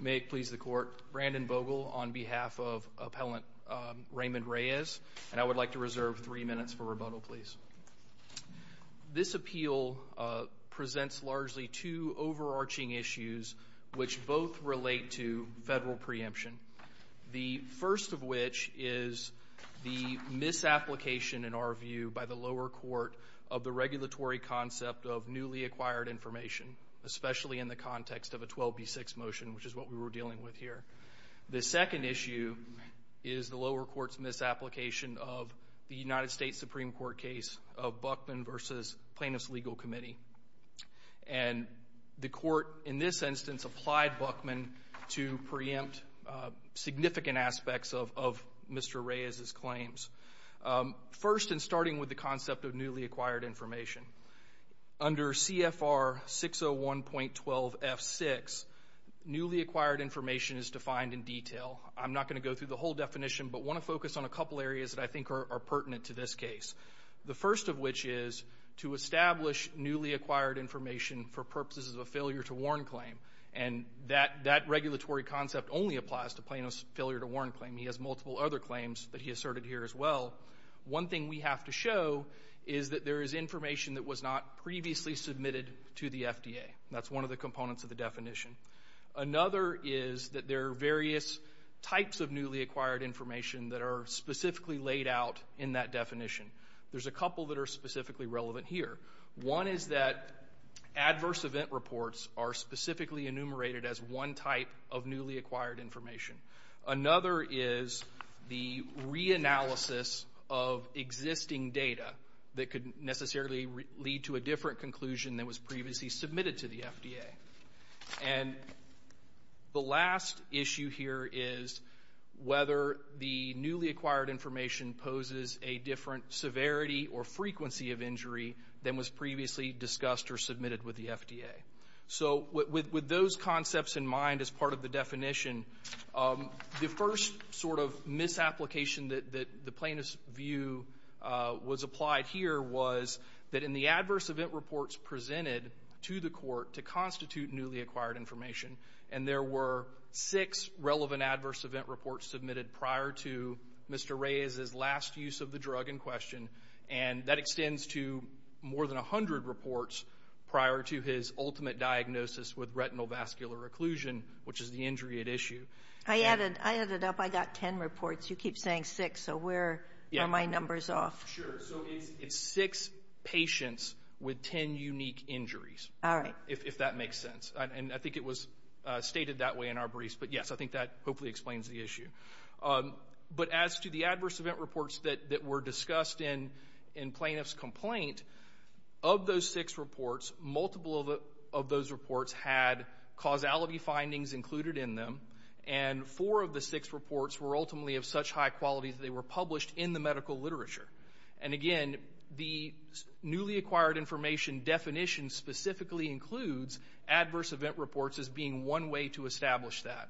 May it please the court, Brandon Vogel on behalf of appellant Raymond Rayes and I would like to reserve three minutes for rebuttal please. This appeal presents largely two overarching issues which both relate to federal preemption. The first of which is the misapplication in our view by the lower court of the regulatory concept of newly acquired information especially in the context of 12b6 motion which is what we were dealing with here. The second issue is the lower courts misapplication of the United States Supreme Court case of Buckman versus plaintiffs legal committee and the court in this instance applied Buckman to preempt significant aspects of Mr. Rayes's claims. First and starting with the concept of newly acquired information under CFR 601.12 F6 newly acquired information is defined in detail. I'm not going to go through the whole definition but want to focus on a couple areas that I think are pertinent to this case. The first of which is to establish newly acquired information for purposes of a failure to warn claim and that that regulatory concept only applies to plaintiffs failure to warn claim. He has multiple other claims that he asserted here as well. One thing we have to show is that there is information that was not previously submitted to the FDA. That's one of the components of the definition. Another is that there are various types of newly acquired information that are specifically laid out in that definition. There's a couple that are specifically relevant here. One is that adverse event reports are specifically enumerated as one type of newly acquired information. Another is the reanalysis of existing data that could necessarily lead to a different conclusion that was previously submitted to the FDA. And the last issue here is whether the newly acquired information poses a different severity or frequency of injury than was previously discussed or submitted with the FDA. So with those concepts in mind as part of the definition, the first sort of misapplication that the plaintiff's view was applied here was that in the adverse event reports presented to the court to constitute newly acquired information and there were six relevant adverse event reports submitted prior to Mr. Reyes's last use of the drug in question and that extends to more than a hundred reports prior to his ultimate diagnosis with retinal vascular occlusion which is the injury at issue. I added, I added up I got ten reports you keep saying six so where are my numbers off? Sure, so it's six patients with ten unique injuries. Alright. If that makes sense and I think it was stated that way in our briefs but yes I think that hopefully explains the issue. But as to the adverse event reports that that were discussed in plaintiff's complaint, of those six reports multiple of those reports had causality findings included in them and four of the six reports were ultimately of such high quality they were published in the medical literature and again the newly acquired information definition specifically includes adverse event reports as being one way to establish that.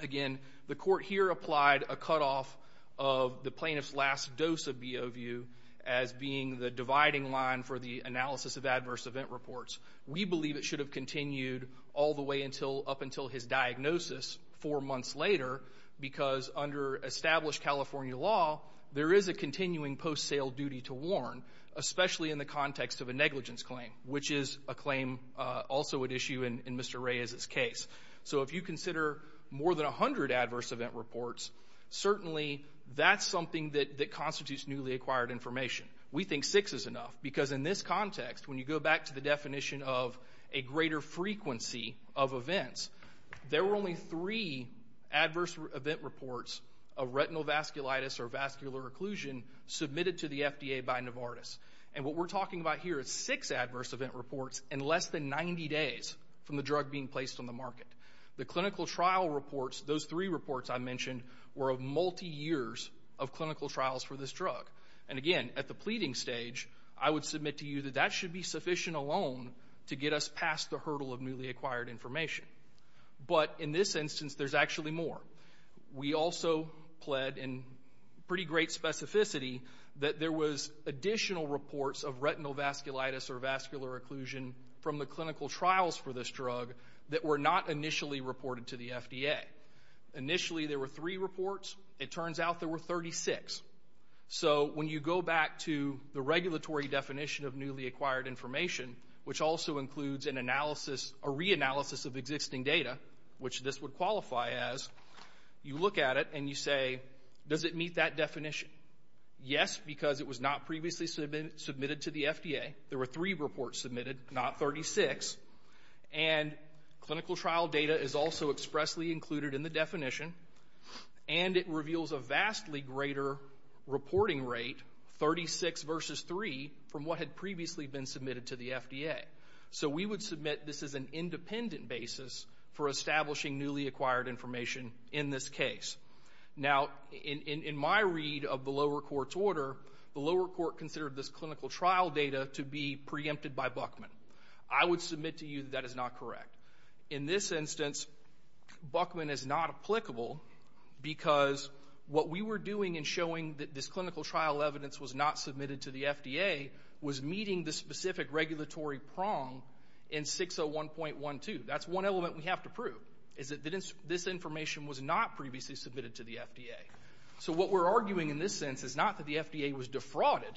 Again the court here applied a cut off of the plaintiff's last dose of BOVU as being the dividing line for the analysis of adverse event reports. We believe it should have continued all the way until up until his diagnosis four months later because under established California law there is a continuing post-sale duty to warn especially in the context of a negligence claim which is a claim also at issue in Mr. Ray's case. So if you consider more than a hundred adverse event reports certainly that's something that constitutes newly acquired information. We think six is enough because in this context when you go back to the definition of a greater frequency of events there were only three adverse event reports of retinal vasculitis or vascular occlusion submitted to the FDA by Novartis and what we're talking about here is six adverse event reports in less than 90 days from the drug being placed on the market. The clinical trial reports those three reports I mentioned were of multi years of clinical trials for this drug and again at the pleading stage I would submit to you that that should be of newly acquired information. But in this instance there's actually more. We also pled in pretty great specificity that there was additional reports of retinal vasculitis or vascular occlusion from the clinical trials for this drug that were not initially reported to the FDA. Initially there were three reports it turns out there were 36. So when you go back to the regulatory definition of analysis a reanalysis of existing data which this would qualify as you look at it and you say does it meet that definition? Yes because it was not previously submitted to the FDA. There were three reports submitted not 36 and clinical trial data is also expressly included in the definition and it reveals a vastly greater reporting rate 36 versus 3 from what had previously been submitted to the FDA. So we would submit this is an independent basis for establishing newly acquired information in this case. Now in my read of the lower court's order the lower court considered this clinical trial data to be preempted by Buckman. I would submit to you that is not correct. In this instance Buckman is not applicable because what we were doing in showing that this clinical trial evidence was not submitted to the FDA was meeting the specific regulatory prong in 601.12. That's one element we have to prove is that this information was not previously submitted to the FDA. So what we're arguing in this sense is not that the FDA was defrauded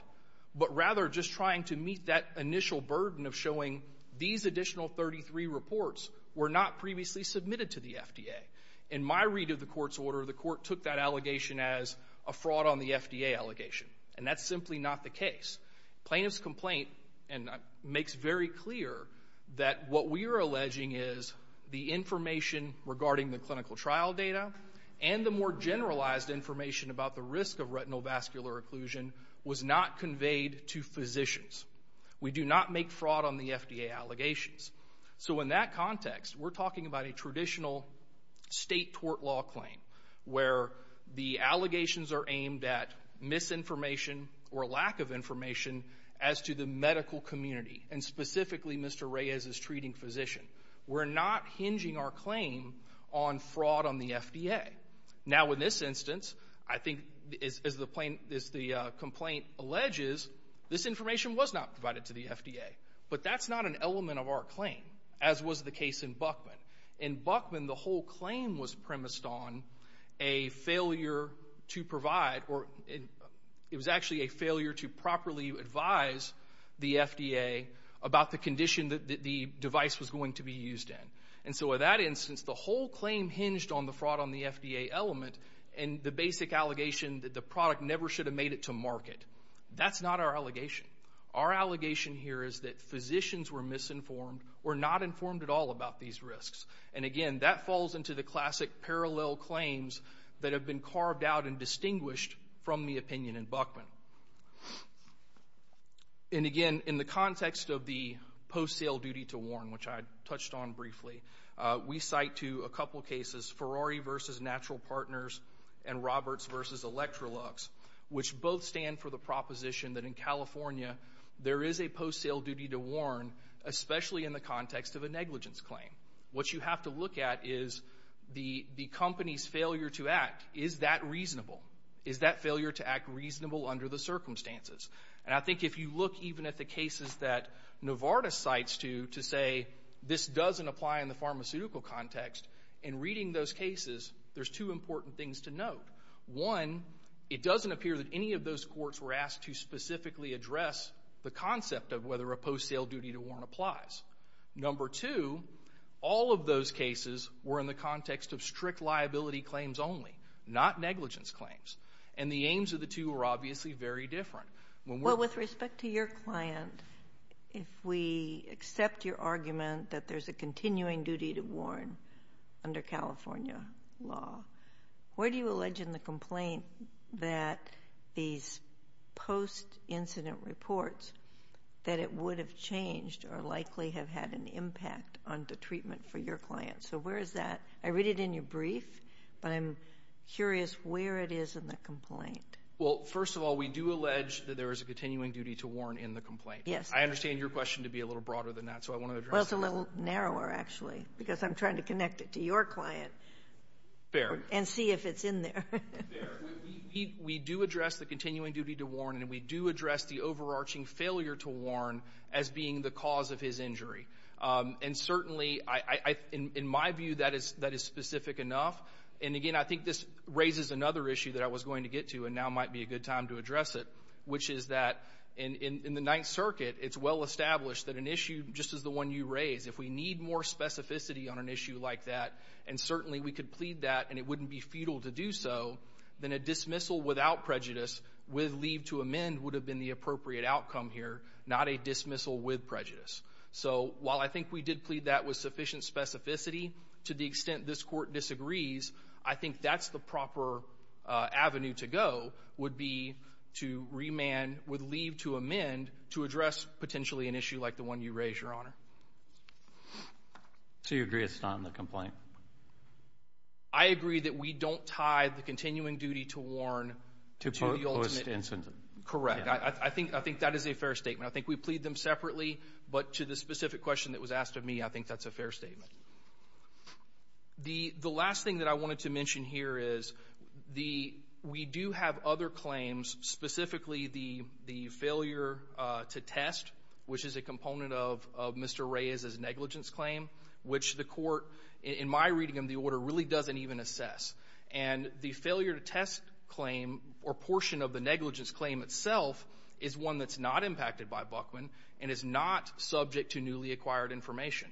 but rather just trying to meet that initial burden of showing these additional 33 reports were not previously submitted to the FDA. In my read of the court's order the court took that allegation as a fraud on the FDA allegation and that's simply not the case. And that makes very clear that what we are alleging is the information regarding the clinical trial data and the more generalized information about the risk of retinovascular occlusion was not conveyed to physicians. We do not make fraud on the FDA allegations. So in that context we're talking about a traditional state tort law claim where the allegations are aimed at misinformation or lack of information as to the medical community and specifically Mr. Reyes is treating physician. We're not hinging our claim on fraud on the FDA. Now in this instance I think as the complaint alleges this information was not provided to the FDA but that's not an element of our claim as was the case in Buckman. In Buckman the whole claim was it was actually a failure to properly advise the FDA about the condition that the device was going to be used in. And so with that instance the whole claim hinged on the fraud on the FDA element and the basic allegation that the product never should have made it to market. That's not our allegation. Our allegation here is that physicians were misinformed or not informed at all about these risks. And again that falls into the classic parallel claims that have been carved out and distinguished from the opinion in Buckman. And again in the context of the post-sale duty to warn, which I touched on briefly, we cite to a couple cases Ferrari versus Natural Partners and Roberts versus Electrolux which both stand for the proposition that in California there is a post-sale duty to warn especially in the context of a negligence claim. What you have to look at is the company's failure to act. Is that reasonable? Is that failure to act reasonable under the circumstances? And I think if you look even at the cases that Novartis cites to say this doesn't apply in the pharmaceutical context, in reading those cases there's two important things to note. One, it doesn't appear that any of those courts were asked to specifically address the concept of whether a post-sale duty to warn applies. Number two, all of those cases were in the context of strict liability claims only, not negligence claims. And the aims of the two are obviously very different. Well with respect to your client, if we accept your argument that there's a continuing duty to warn under California law, where do you allege in the complaint that these post-incident reports that it would have changed or likely have had an impact on the treatment for your client? So where is that? I read it in your brief but I'm curious where it is in the complaint. Well first of all we do allege that there is a continuing duty to warn in the complaint. Yes. I understand your question to be a little broader than that so I want to address that. Well it's a little narrower actually because I'm trying to connect it to your client. Fair. And see if it's in there. We do address the continuing duty to warn and we do address the overarching failure to warn as being the cause of his injury. And certainly in my view that is specific enough. And again I think this raises another issue that I was going to get to and now might be a good time to address it, which is that in the Ninth Circuit it's well established that an issue just as the one you raise, if we need more specificity on an issue like that and certainly we could plead that and it wouldn't be futile to do so, then a dismissal without prejudice with leave to amend would have been the appropriate outcome here, not a dismissal with prejudice. So while I think we did plead that with sufficient specificity to the extent this court disagrees, I think that's the proper avenue to go, would be to remand with leave to amend to address potentially an issue like the one you raise, Your Honor. So you agree it's not in the complaint? I agree that we don't tie the continuing duty to warn to the ultimate... To post-incident. Correct. I think that is a fair statement. I think we plead them separately, but to the specific question that was asked of me I think that's a fair statement. The last thing that I wanted to mention here is we do have other claims, specifically the failure to test, which is a component of Mr. Reyes's negligence claim, which the court, in my reading of the order, really doesn't even assess. And the failure to test claim or portion of the negligence claim itself is one that's not impacted by Buckman and is not subject to newly acquired information.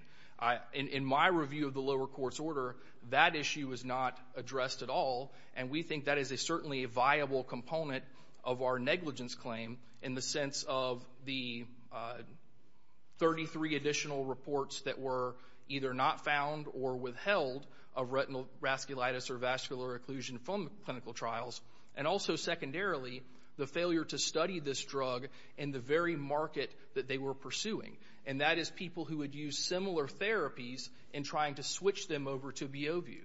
In my review of the lower court's order, that issue is not addressed at all, and we think that is certainly a viable component of our negligence claim in the sense of the 33 additional reports that were either not found or withheld of retinal vasculitis or vascular occlusion from clinical trials. And also, secondarily, the failure to study this and that is people who would use similar therapies in trying to switch them over to B.O. view.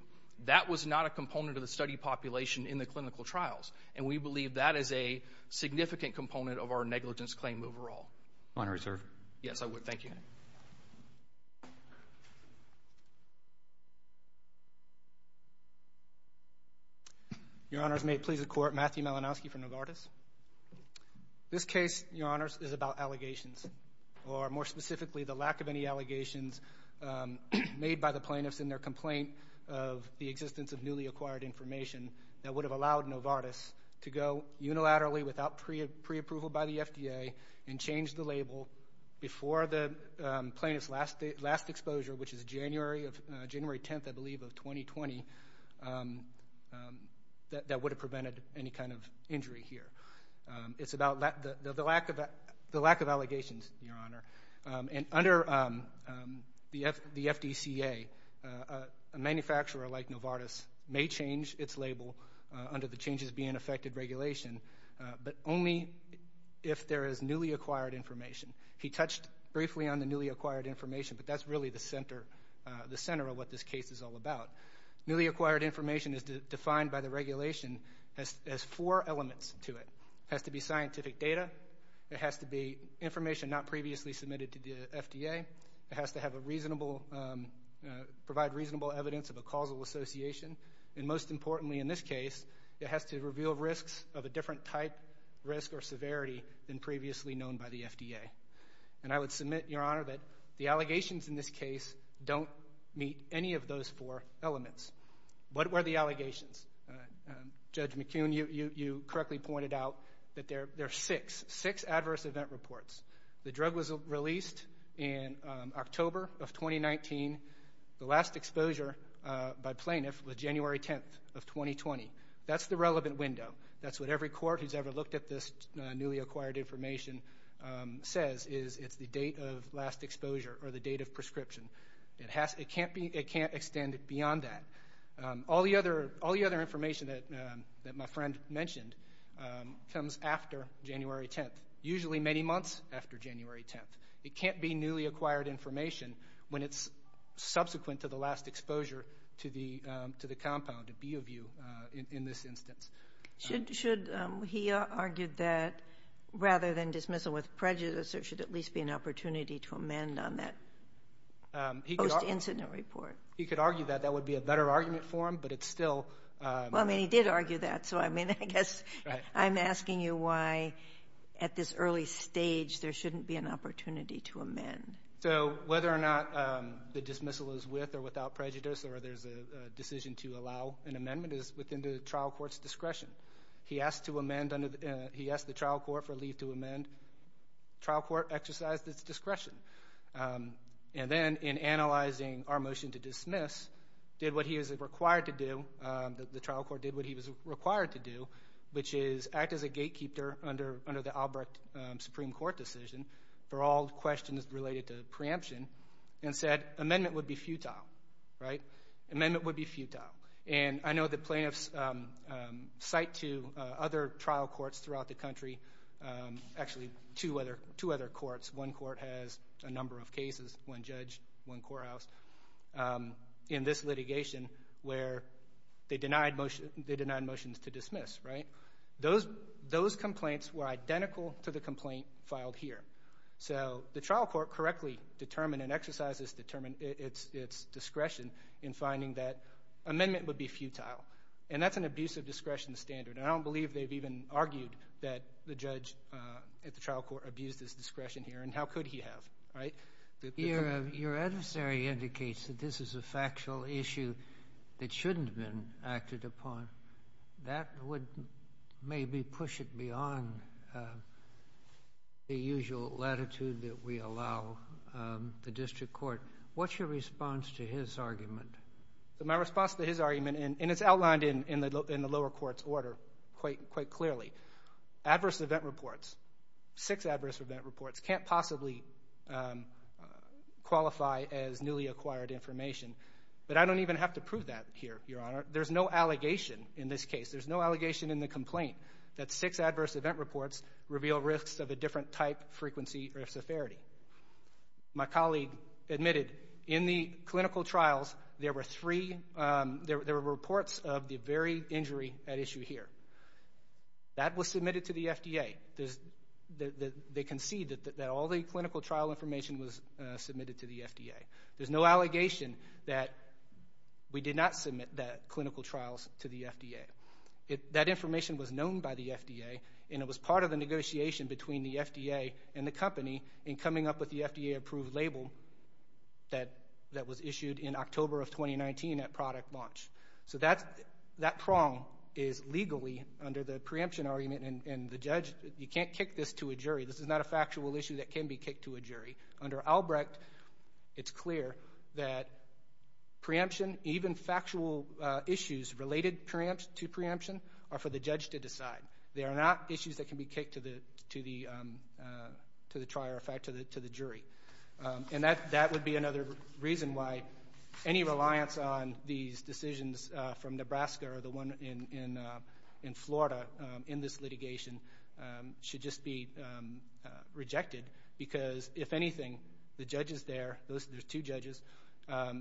That was not a component of the study population in the clinical trials, and we believe that is a significant component of our negligence claim overall. Honorary, sir. Yes, I would. Thank you. Your Honors, may it please the Court, Matthew Malinowski from Novartis. This case, Your Honors, is about allegations or, more specifically, the lack of any allegations made by the plaintiffs in their complaint of the existence of newly acquired information that would have allowed Novartis to go unilaterally without pre-approval by the FDA and change the label before the plaintiff's last exposure, which is January 10th, I believe, of 2020, that would have prevented any kind of injury here. It's about the lack of allegations, Your Honor, and under the FDCA, a manufacturer like Novartis may change its label under the changes being affected regulation, but only if there is newly acquired information. He touched briefly on the newly acquired information, but that's really the center of what this case is all about. Newly acquired information is defined by the regulation as four elements to it. It has to be scientific data. It has to be information not previously submitted to the FDA. It has to have a reasonable, provide reasonable evidence of a causal association, and most importantly in this case, it has to reveal risks of a different type, risk, or severity than previously known by the FDA. And I would submit, Your Honor, that the allegations in this case don't meet any of those four elements. What were the allegations? Judge McCune, you correctly pointed out that there are six, six adverse event reports. The drug was released in October of 2019. The last exposure by plaintiff was January 10th of 2020. That's the relevant window. That's what every court who's ever looked at this newly acquired information says, is it's the date of last exposure or the date of prescription. It has, it can't be, it can't extend beyond that. All the other, all the other information that, that my friend mentioned comes after January 10th, usually many months after January 10th. It can't be newly acquired information when it's subsequent to the last exposure to the, to the compound, to B of U in this instance. Should, should, he argued that rather than dismissal with prejudice, there should at least be an opportunity to amend on that post incident report. He could argue that. That would be a better argument for him, but it's still. Well, I mean, he did argue that. So, I mean, I guess I'm asking you why at this early stage there shouldn't be an opportunity to amend. So, whether or not the dismissal is with or without prejudice or there's a decision to allow an amendment is within the trial court's discretion. He asked to amend under the, he asked the trial court for leave to amend. Trial court exercised its discretion. And then in analyzing our motion to dismiss, did what he was required to do, that the trial court did what he was required to do, which is act as a gatekeeper under, under the Albrecht Supreme Court decision for all questions related to preemption, and said amendment would be futile, right? Amendment would be futile. And I know the plaintiffs cite to other trial courts throughout the country, actually two other, two other courts, one court has a number of cases, one judge, one courthouse, in this litigation where they denied motion, they denied motions to dismiss, right? Those, those complaints were identical to the complaint filed here. So, the trial court correctly determined and exercises determined its, discretion in finding that amendment would be futile. And that's an abuse of discretion standard. And I don't believe they've even argued that the judge at the trial court abused his discretion here, and how could he have, right? Your adversary indicates that this is a factual issue that shouldn't have been acted upon. That would maybe push it beyond the usual latitude that we allow the district court. What's your response to his argument? My response to his argument, and, and it's outlined in, in the, in the lower court's order quite, quite clearly. Adverse event reports, six adverse event reports can't possibly qualify as newly acquired information. But I don't even have to prove that here, Your Honor. There's no allegation in this case. There's no allegation in the complaint that six adverse event reports reveal risks of a different type, frequency, or severity. My colleague admitted in the clinical trials, there were three, there, there were reports of the very injury at issue here. That was submitted to the FDA. There's, the, the, they concede that, that all the clinical trial information was submitted to the FDA. There's no allegation that we did not submit that clinical trials to the FDA. It, that information was known by the FDA and it was part of the negotiation between the FDA and the company in coming up with the FDA approved label that, that was issued in October of 2019 at product launch. So that's, that prong is legally under the preemption argument and, and the judge, you can't kick this to a jury. This is not a factual issue that can be kicked to a jury. Under Albrecht, it's clear that preemption, even factual issues related preempt, to preemption are for the judge to decide. They are not issues that can be kicked to the, to the, to the trier, in fact, to the, to the jury. And that, that would be another reason why any reliance on these decisions from Nebraska or the one in, in, in Florida in this litigation should just be rejected because, if anything, the judges there, those, there's two judges,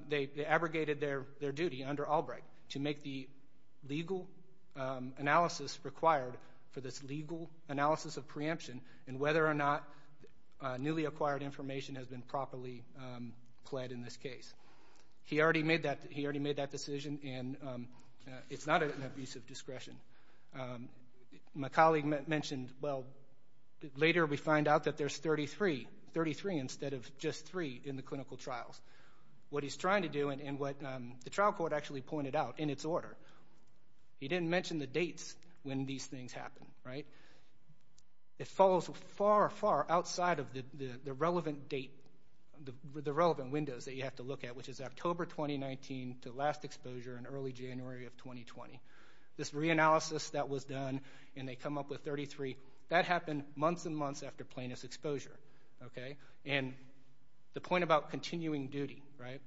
they, they abrogated their, their duty under the legal analysis required for this legal analysis of preemption and whether or not newly acquired information has been properly pled in this case. He already made that, he already made that decision and it's not an abuse of discretion. My colleague mentioned, well, later we find out that there's 33, 33 instead of just three in the clinical trials. What he's trying to do and, and what the trial court actually pointed out in its order, he didn't mention the dates when these things happen, right? It follows far, far outside of the, the, the relevant date, the, the relevant windows that you have to look at, which is October 2019 to last exposure in early January of 2020. This reanalysis that was done and they come up with 33, that happened months and months after plaintiff's exposure, okay? And the point about continuing duty, right?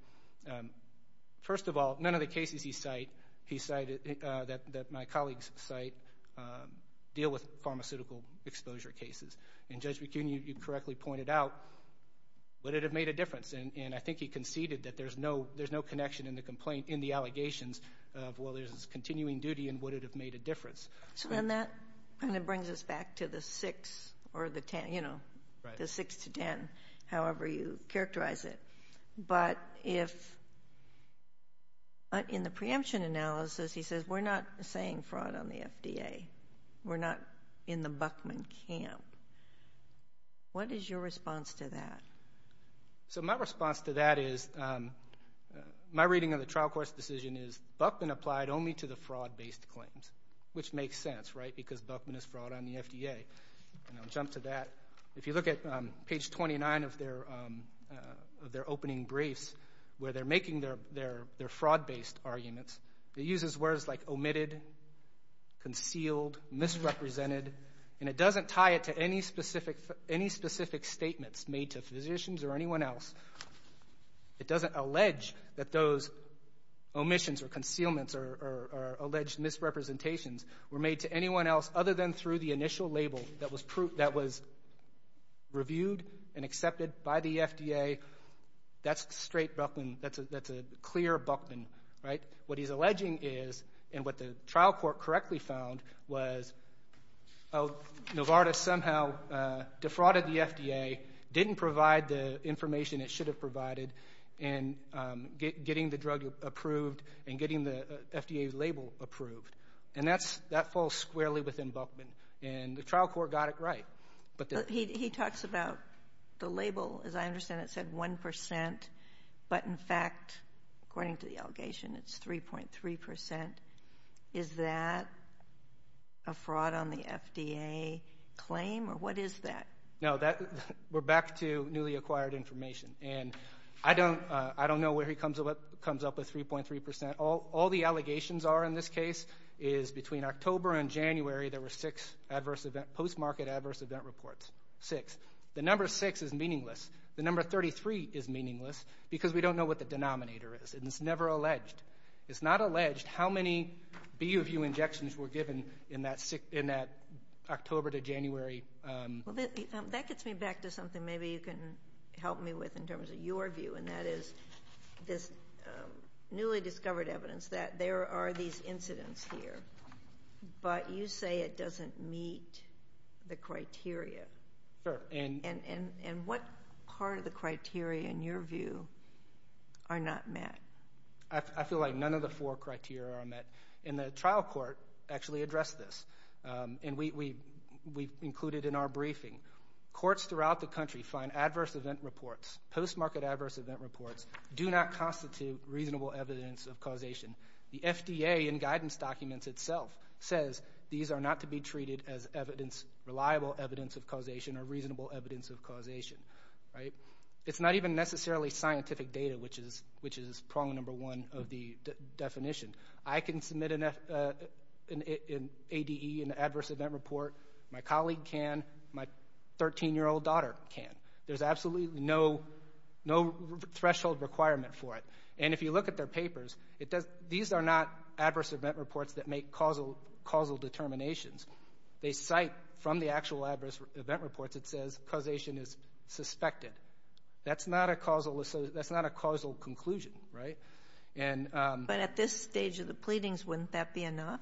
First of all, none of the cases he cite, he cited, that, that my colleagues cite, deal with pharmaceutical exposure cases. And Judge McKeown, you correctly pointed out, would it have made a difference? And, and I think he conceded that there's no, there's no connection in the complaint, in the allegations of, well, there's this continuing duty and would it have made a difference? So then that kind of brings us back to the six or the ten, you know, the six to ten, however you characterize it. But if, but in the preemption analysis, he says, we're not saying fraud on the FDA. We're not in the Buckman camp. What is your response to that? So my response to that is, my reading of the trial court's decision is Buckman applied only to the fraud based claims, which makes sense, right? Because Buckman is fraud on the FDA. And I'll jump to that. If you look at page 29 of their, of their opening briefs, where they're making their, their, their fraud based arguments, it uses words like omitted, concealed, misrepresented, and it doesn't tie it to any specific, any specific statements made to physicians or anyone else. It doesn't allege that those omissions or concealments or, or, or alleged misrepresentations were made to anyone else other than through the initial label that was proved, that was reviewed and accepted by the FDA. That's straight Buckman. That's a, that's a clear Buckman, right? What he's alleging is, and what the trial court correctly found, was Novartis somehow defrauded the FDA, didn't provide the information it should have provided, and getting the drug approved and getting the FDA label approved. And that's, that falls squarely within Buckman. And the trial court got it right. But he, he talks about the label, as I understand it, said 1%, but in fact, according to the allegation, it's 3.3%. Is that a fraud on the FDA claim, or what is that? No, that, we're back to newly reported, comes up with 3.3%. All, all the allegations are in this case is between October and January, there were six adverse event, post-market adverse event reports. Six. The number six is meaningless. The number 33 is meaningless, because we don't know what the denominator is. And it's never alleged. It's not alleged how many BUVU injections were given in that six, in that October to January. Well, that, that gets me back to something maybe you can help me with in terms of your view, and that is this newly discovered evidence that there are these incidents here, but you say it doesn't meet the criteria. Sure, and. And, and, and what part of the criteria, in your view, are not met? I, I feel like none of the four criteria are met. And the trial court actually addressed this. And we, we, we included in our briefing, courts throughout the adverse event reports, do not constitute reasonable evidence of causation. The FDA in guidance documents itself says these are not to be treated as evidence, reliable evidence of causation, or reasonable evidence of causation. Right? It's not even necessarily scientific data, which is, which is problem number one of the definition. I can submit an F, an ADE, an adverse event report. My 13-year-old daughter can. There's absolutely no, no threshold requirement for it. And if you look at their papers, it does, these are not adverse event reports that make causal, causal determinations. They cite from the actual adverse event reports, it says causation is suspected. That's not a causal, that's not a causal conclusion. Right? And. But at this stage of the pleadings, wouldn't that be enough?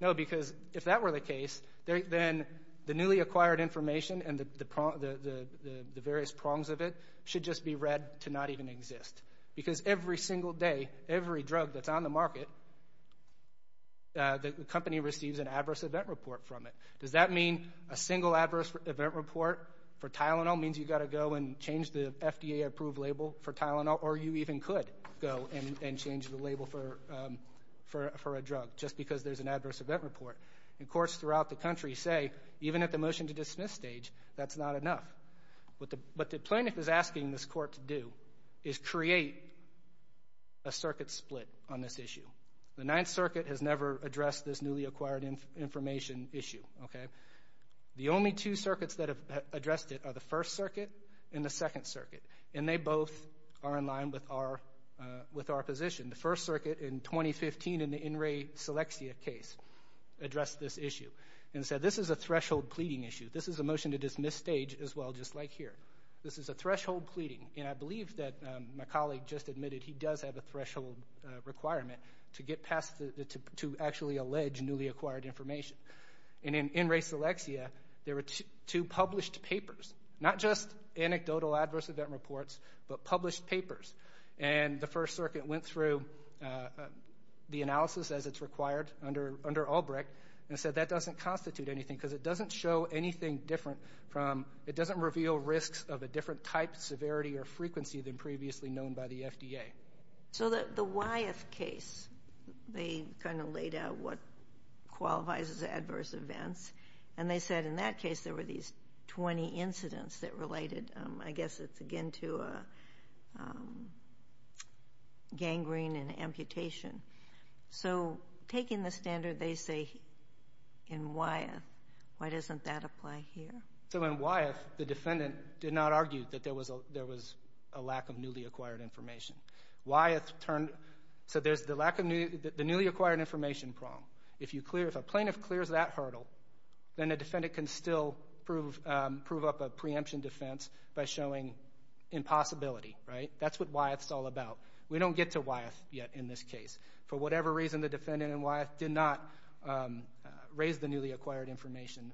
No, because if that were the case, then the newly acquired information and the, the prong, the, the, the various prongs of it should just be read to not even exist. Because every single day, every drug that's on the market, the company receives an adverse event report from it. Does that mean a single adverse event report for Tylenol means you gotta go and change the FDA approved label for Tylenol? Or you even could go and, and change the label for, for, for a drug, just because there's an adverse event report. And courts throughout the country say, even at the motion to dismiss stage, that's not enough. What the, what the plaintiff is asking this court to do is create a circuit split on this issue. The Ninth Circuit has never addressed this newly acquired inf, information issue, okay? The only two circuits that have addressed it are the First Circuit and the Second are with our position. The First Circuit in 2015 in the In Re Seleccia case addressed this issue and said, this is a threshold pleading issue. This is a motion to dismiss stage as well, just like here. This is a threshold pleading. And I believe that my colleague just admitted he does have a threshold requirement to get past the, the, to, to actually allege newly acquired information. And in, in Re Seleccia, there were two, two published papers. Not just And the First Circuit went through the analysis as it's required under, under Albrecht, and said that doesn't constitute anything, because it doesn't show anything different from, it doesn't reveal risks of a different type, severity, or frequency than previously known by the FDA. So the, the Wyeth case, they kind of laid out what qualifies as adverse events. And they said in that case there were these 20 incidents that related, I guess it's again to gangrene and amputation. So taking the standard they say in Wyeth, why doesn't that apply here? So in Wyeth, the defendant did not argue that there was a, there was a lack of newly acquired information. Wyeth turned, so there's the lack of new, the newly acquired information problem. If you clear, if a plaintiff clears that hurdle, then a defendant can still prove, prove up a preemption defense by showing impossibility, right? That's what Wyeth's all about. We don't get to Wyeth yet in this case. For whatever reason, the defendant in Wyeth did not raise the newly acquired information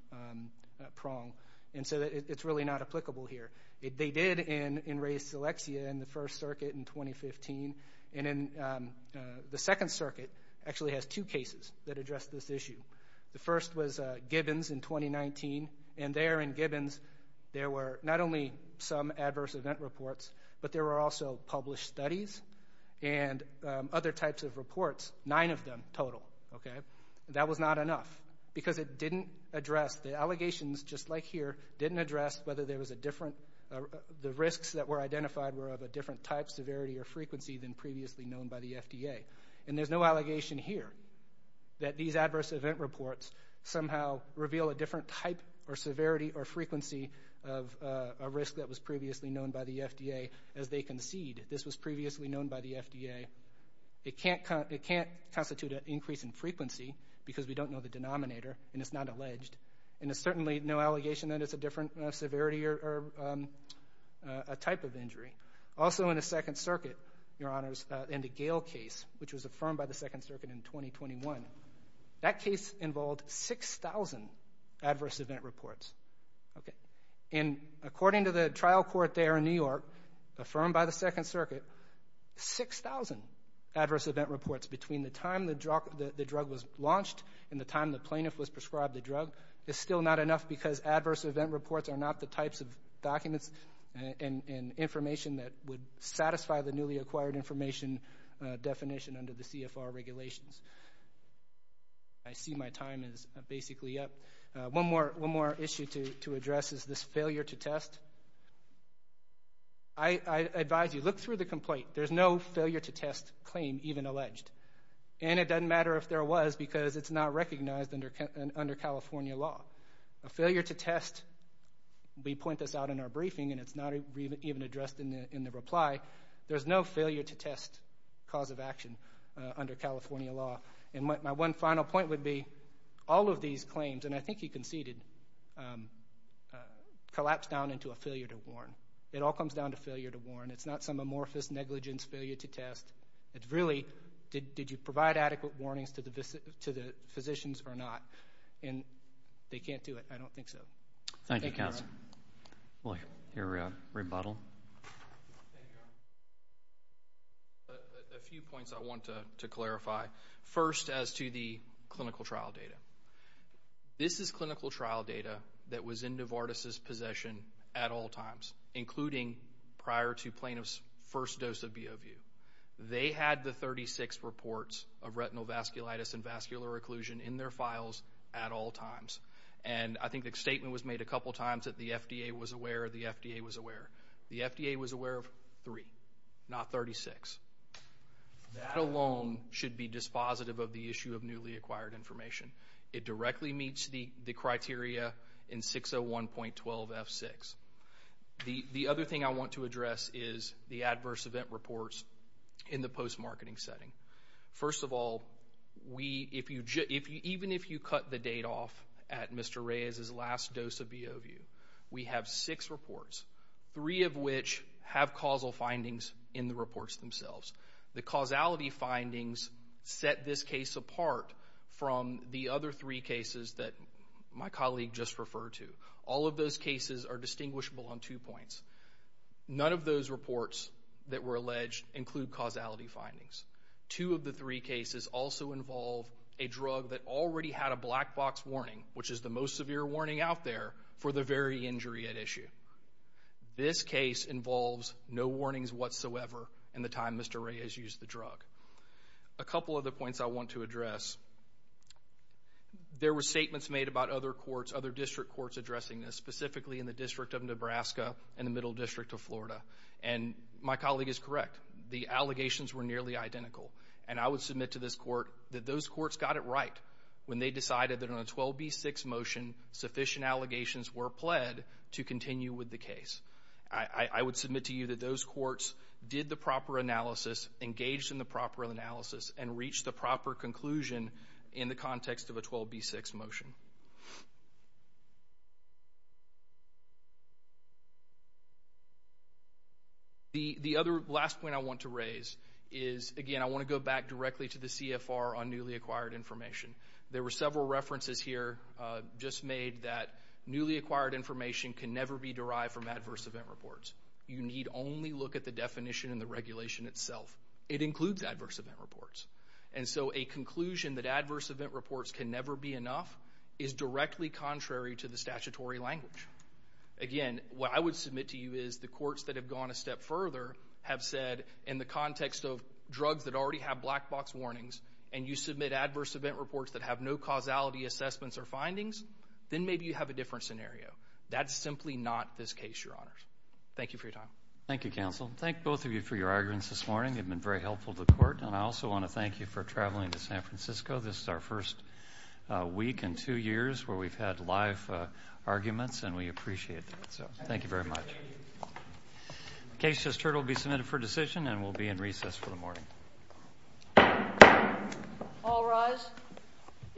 prong. And so it's really not applicable here. They did in, in Re Seleccia in the First Circuit in 2015. And in the Second Circuit actually has two cases that address this issue. The first was Gibbons in 2019. And there in Gibbons there were not only some adverse event reports, but there were also published studies and other types of reports, nine of them total, okay? That was not enough because it didn't address, the allegations just like here didn't address whether there was a different, the risks that were identified were of a different type, severity, or frequency than previously known by the FDA. And there's no allegation here that these adverse event reports somehow reveal a different type or severity or frequency of a risk that was previously known by the FDA as they concede this was previously known by the FDA. It can't, it can't constitute an increase in frequency because we don't know the denominator and it's not alleged. And there's certainly no allegation that it's a different severity or a type of injury. Also in the Gale case, which was affirmed by the Second Circuit in 2021, that case involved 6,000 adverse event reports, okay? And according to the trial court there in New York, affirmed by the Second Circuit, 6,000 adverse event reports between the time the drug was launched and the time the plaintiff was prescribed the drug is still not enough because adverse event reports are not the types of documents and information that would satisfy the newly acquired information definition under the CFR regulations. I see my time is basically up. One more issue to address is this failure to test. I advise you, look through the complaint. There's no failure to test claim even alleged. And it doesn't matter if there was because it's not recognized under California law. A failure to test, we point this out in our briefing and it's not even addressed in the reply. There's no failure to test cause of action under California law. And my one final point would be all of these claims, and I think he conceded, collapse down into a failure to warn. It all comes down to failure to warn. It's not some amorphous negligence failure to test. It's really did you provide adequate warnings to the physicians or not? And they can't do it. I think a few points I want to clarify. First, as to the clinical trial data, this is clinical trial data that was in Novartis's possession at all times, including prior to plaintiff's first dose of B. O. View. They had the 36 reports of retinal vasculitis and vascular occlusion in their files at all times. And I think the statement was made a couple times that the FDA was aware of three, not 36. That alone should be dispositive of the issue of newly acquired information. It directly meets the criteria in 601.12 F6. The other thing I want to address is the adverse event reports in the post marketing setting. First of all, we if you, even if you cut the date off at have causal findings in the reports themselves. The causality findings set this case apart from the other three cases that my colleague just referred to. All of those cases are distinguishable on two points. None of those reports that were alleged include causality findings. Two of the three cases also involve a drug that already had a black box warning, which is the no warnings whatsoever. In the time, Mr Ray has used the drug. A couple of the points I want to address. There were statements made about other courts, other district courts addressing this, specifically in the district of Nebraska and the Middle District of Florida. And my colleague is correct. The allegations were nearly identical, and I would submit to this court that those courts got it right when they decided that on a 12 B six motion, sufficient allegations were pled to continue with the case. I would submit to you that those courts did the proper analysis, engaged in the proper analysis and reach the proper conclusion in the context of a 12 B six motion. The other last point I want to raise is again. I want to go back directly to the CFR on newly acquired information. There were several references here just made that newly acquired information can never be derived from adverse event reports. You need only look at the definition in the regulation itself. It includes adverse event reports. And so a conclusion that adverse event reports can never be enough is directly contrary to the statutory language. Again, what I would submit to you is the courts that have gone a step further have said in the context of drugs that already have black box warnings and you submit causality assessments or findings, then maybe you have a different scenario. That's simply not this case, Your Honor. Thank you for your time. Thank you, Counsel. Thank both of you for your arguments this morning. You've been very helpful to court, and I also want to thank you for traveling to San Francisco. This is our first week in two years where we've had live arguments, and we appreciate it. So thank you very much. Case just heard will be submitted for decision and will be in recess for the morning. All rise.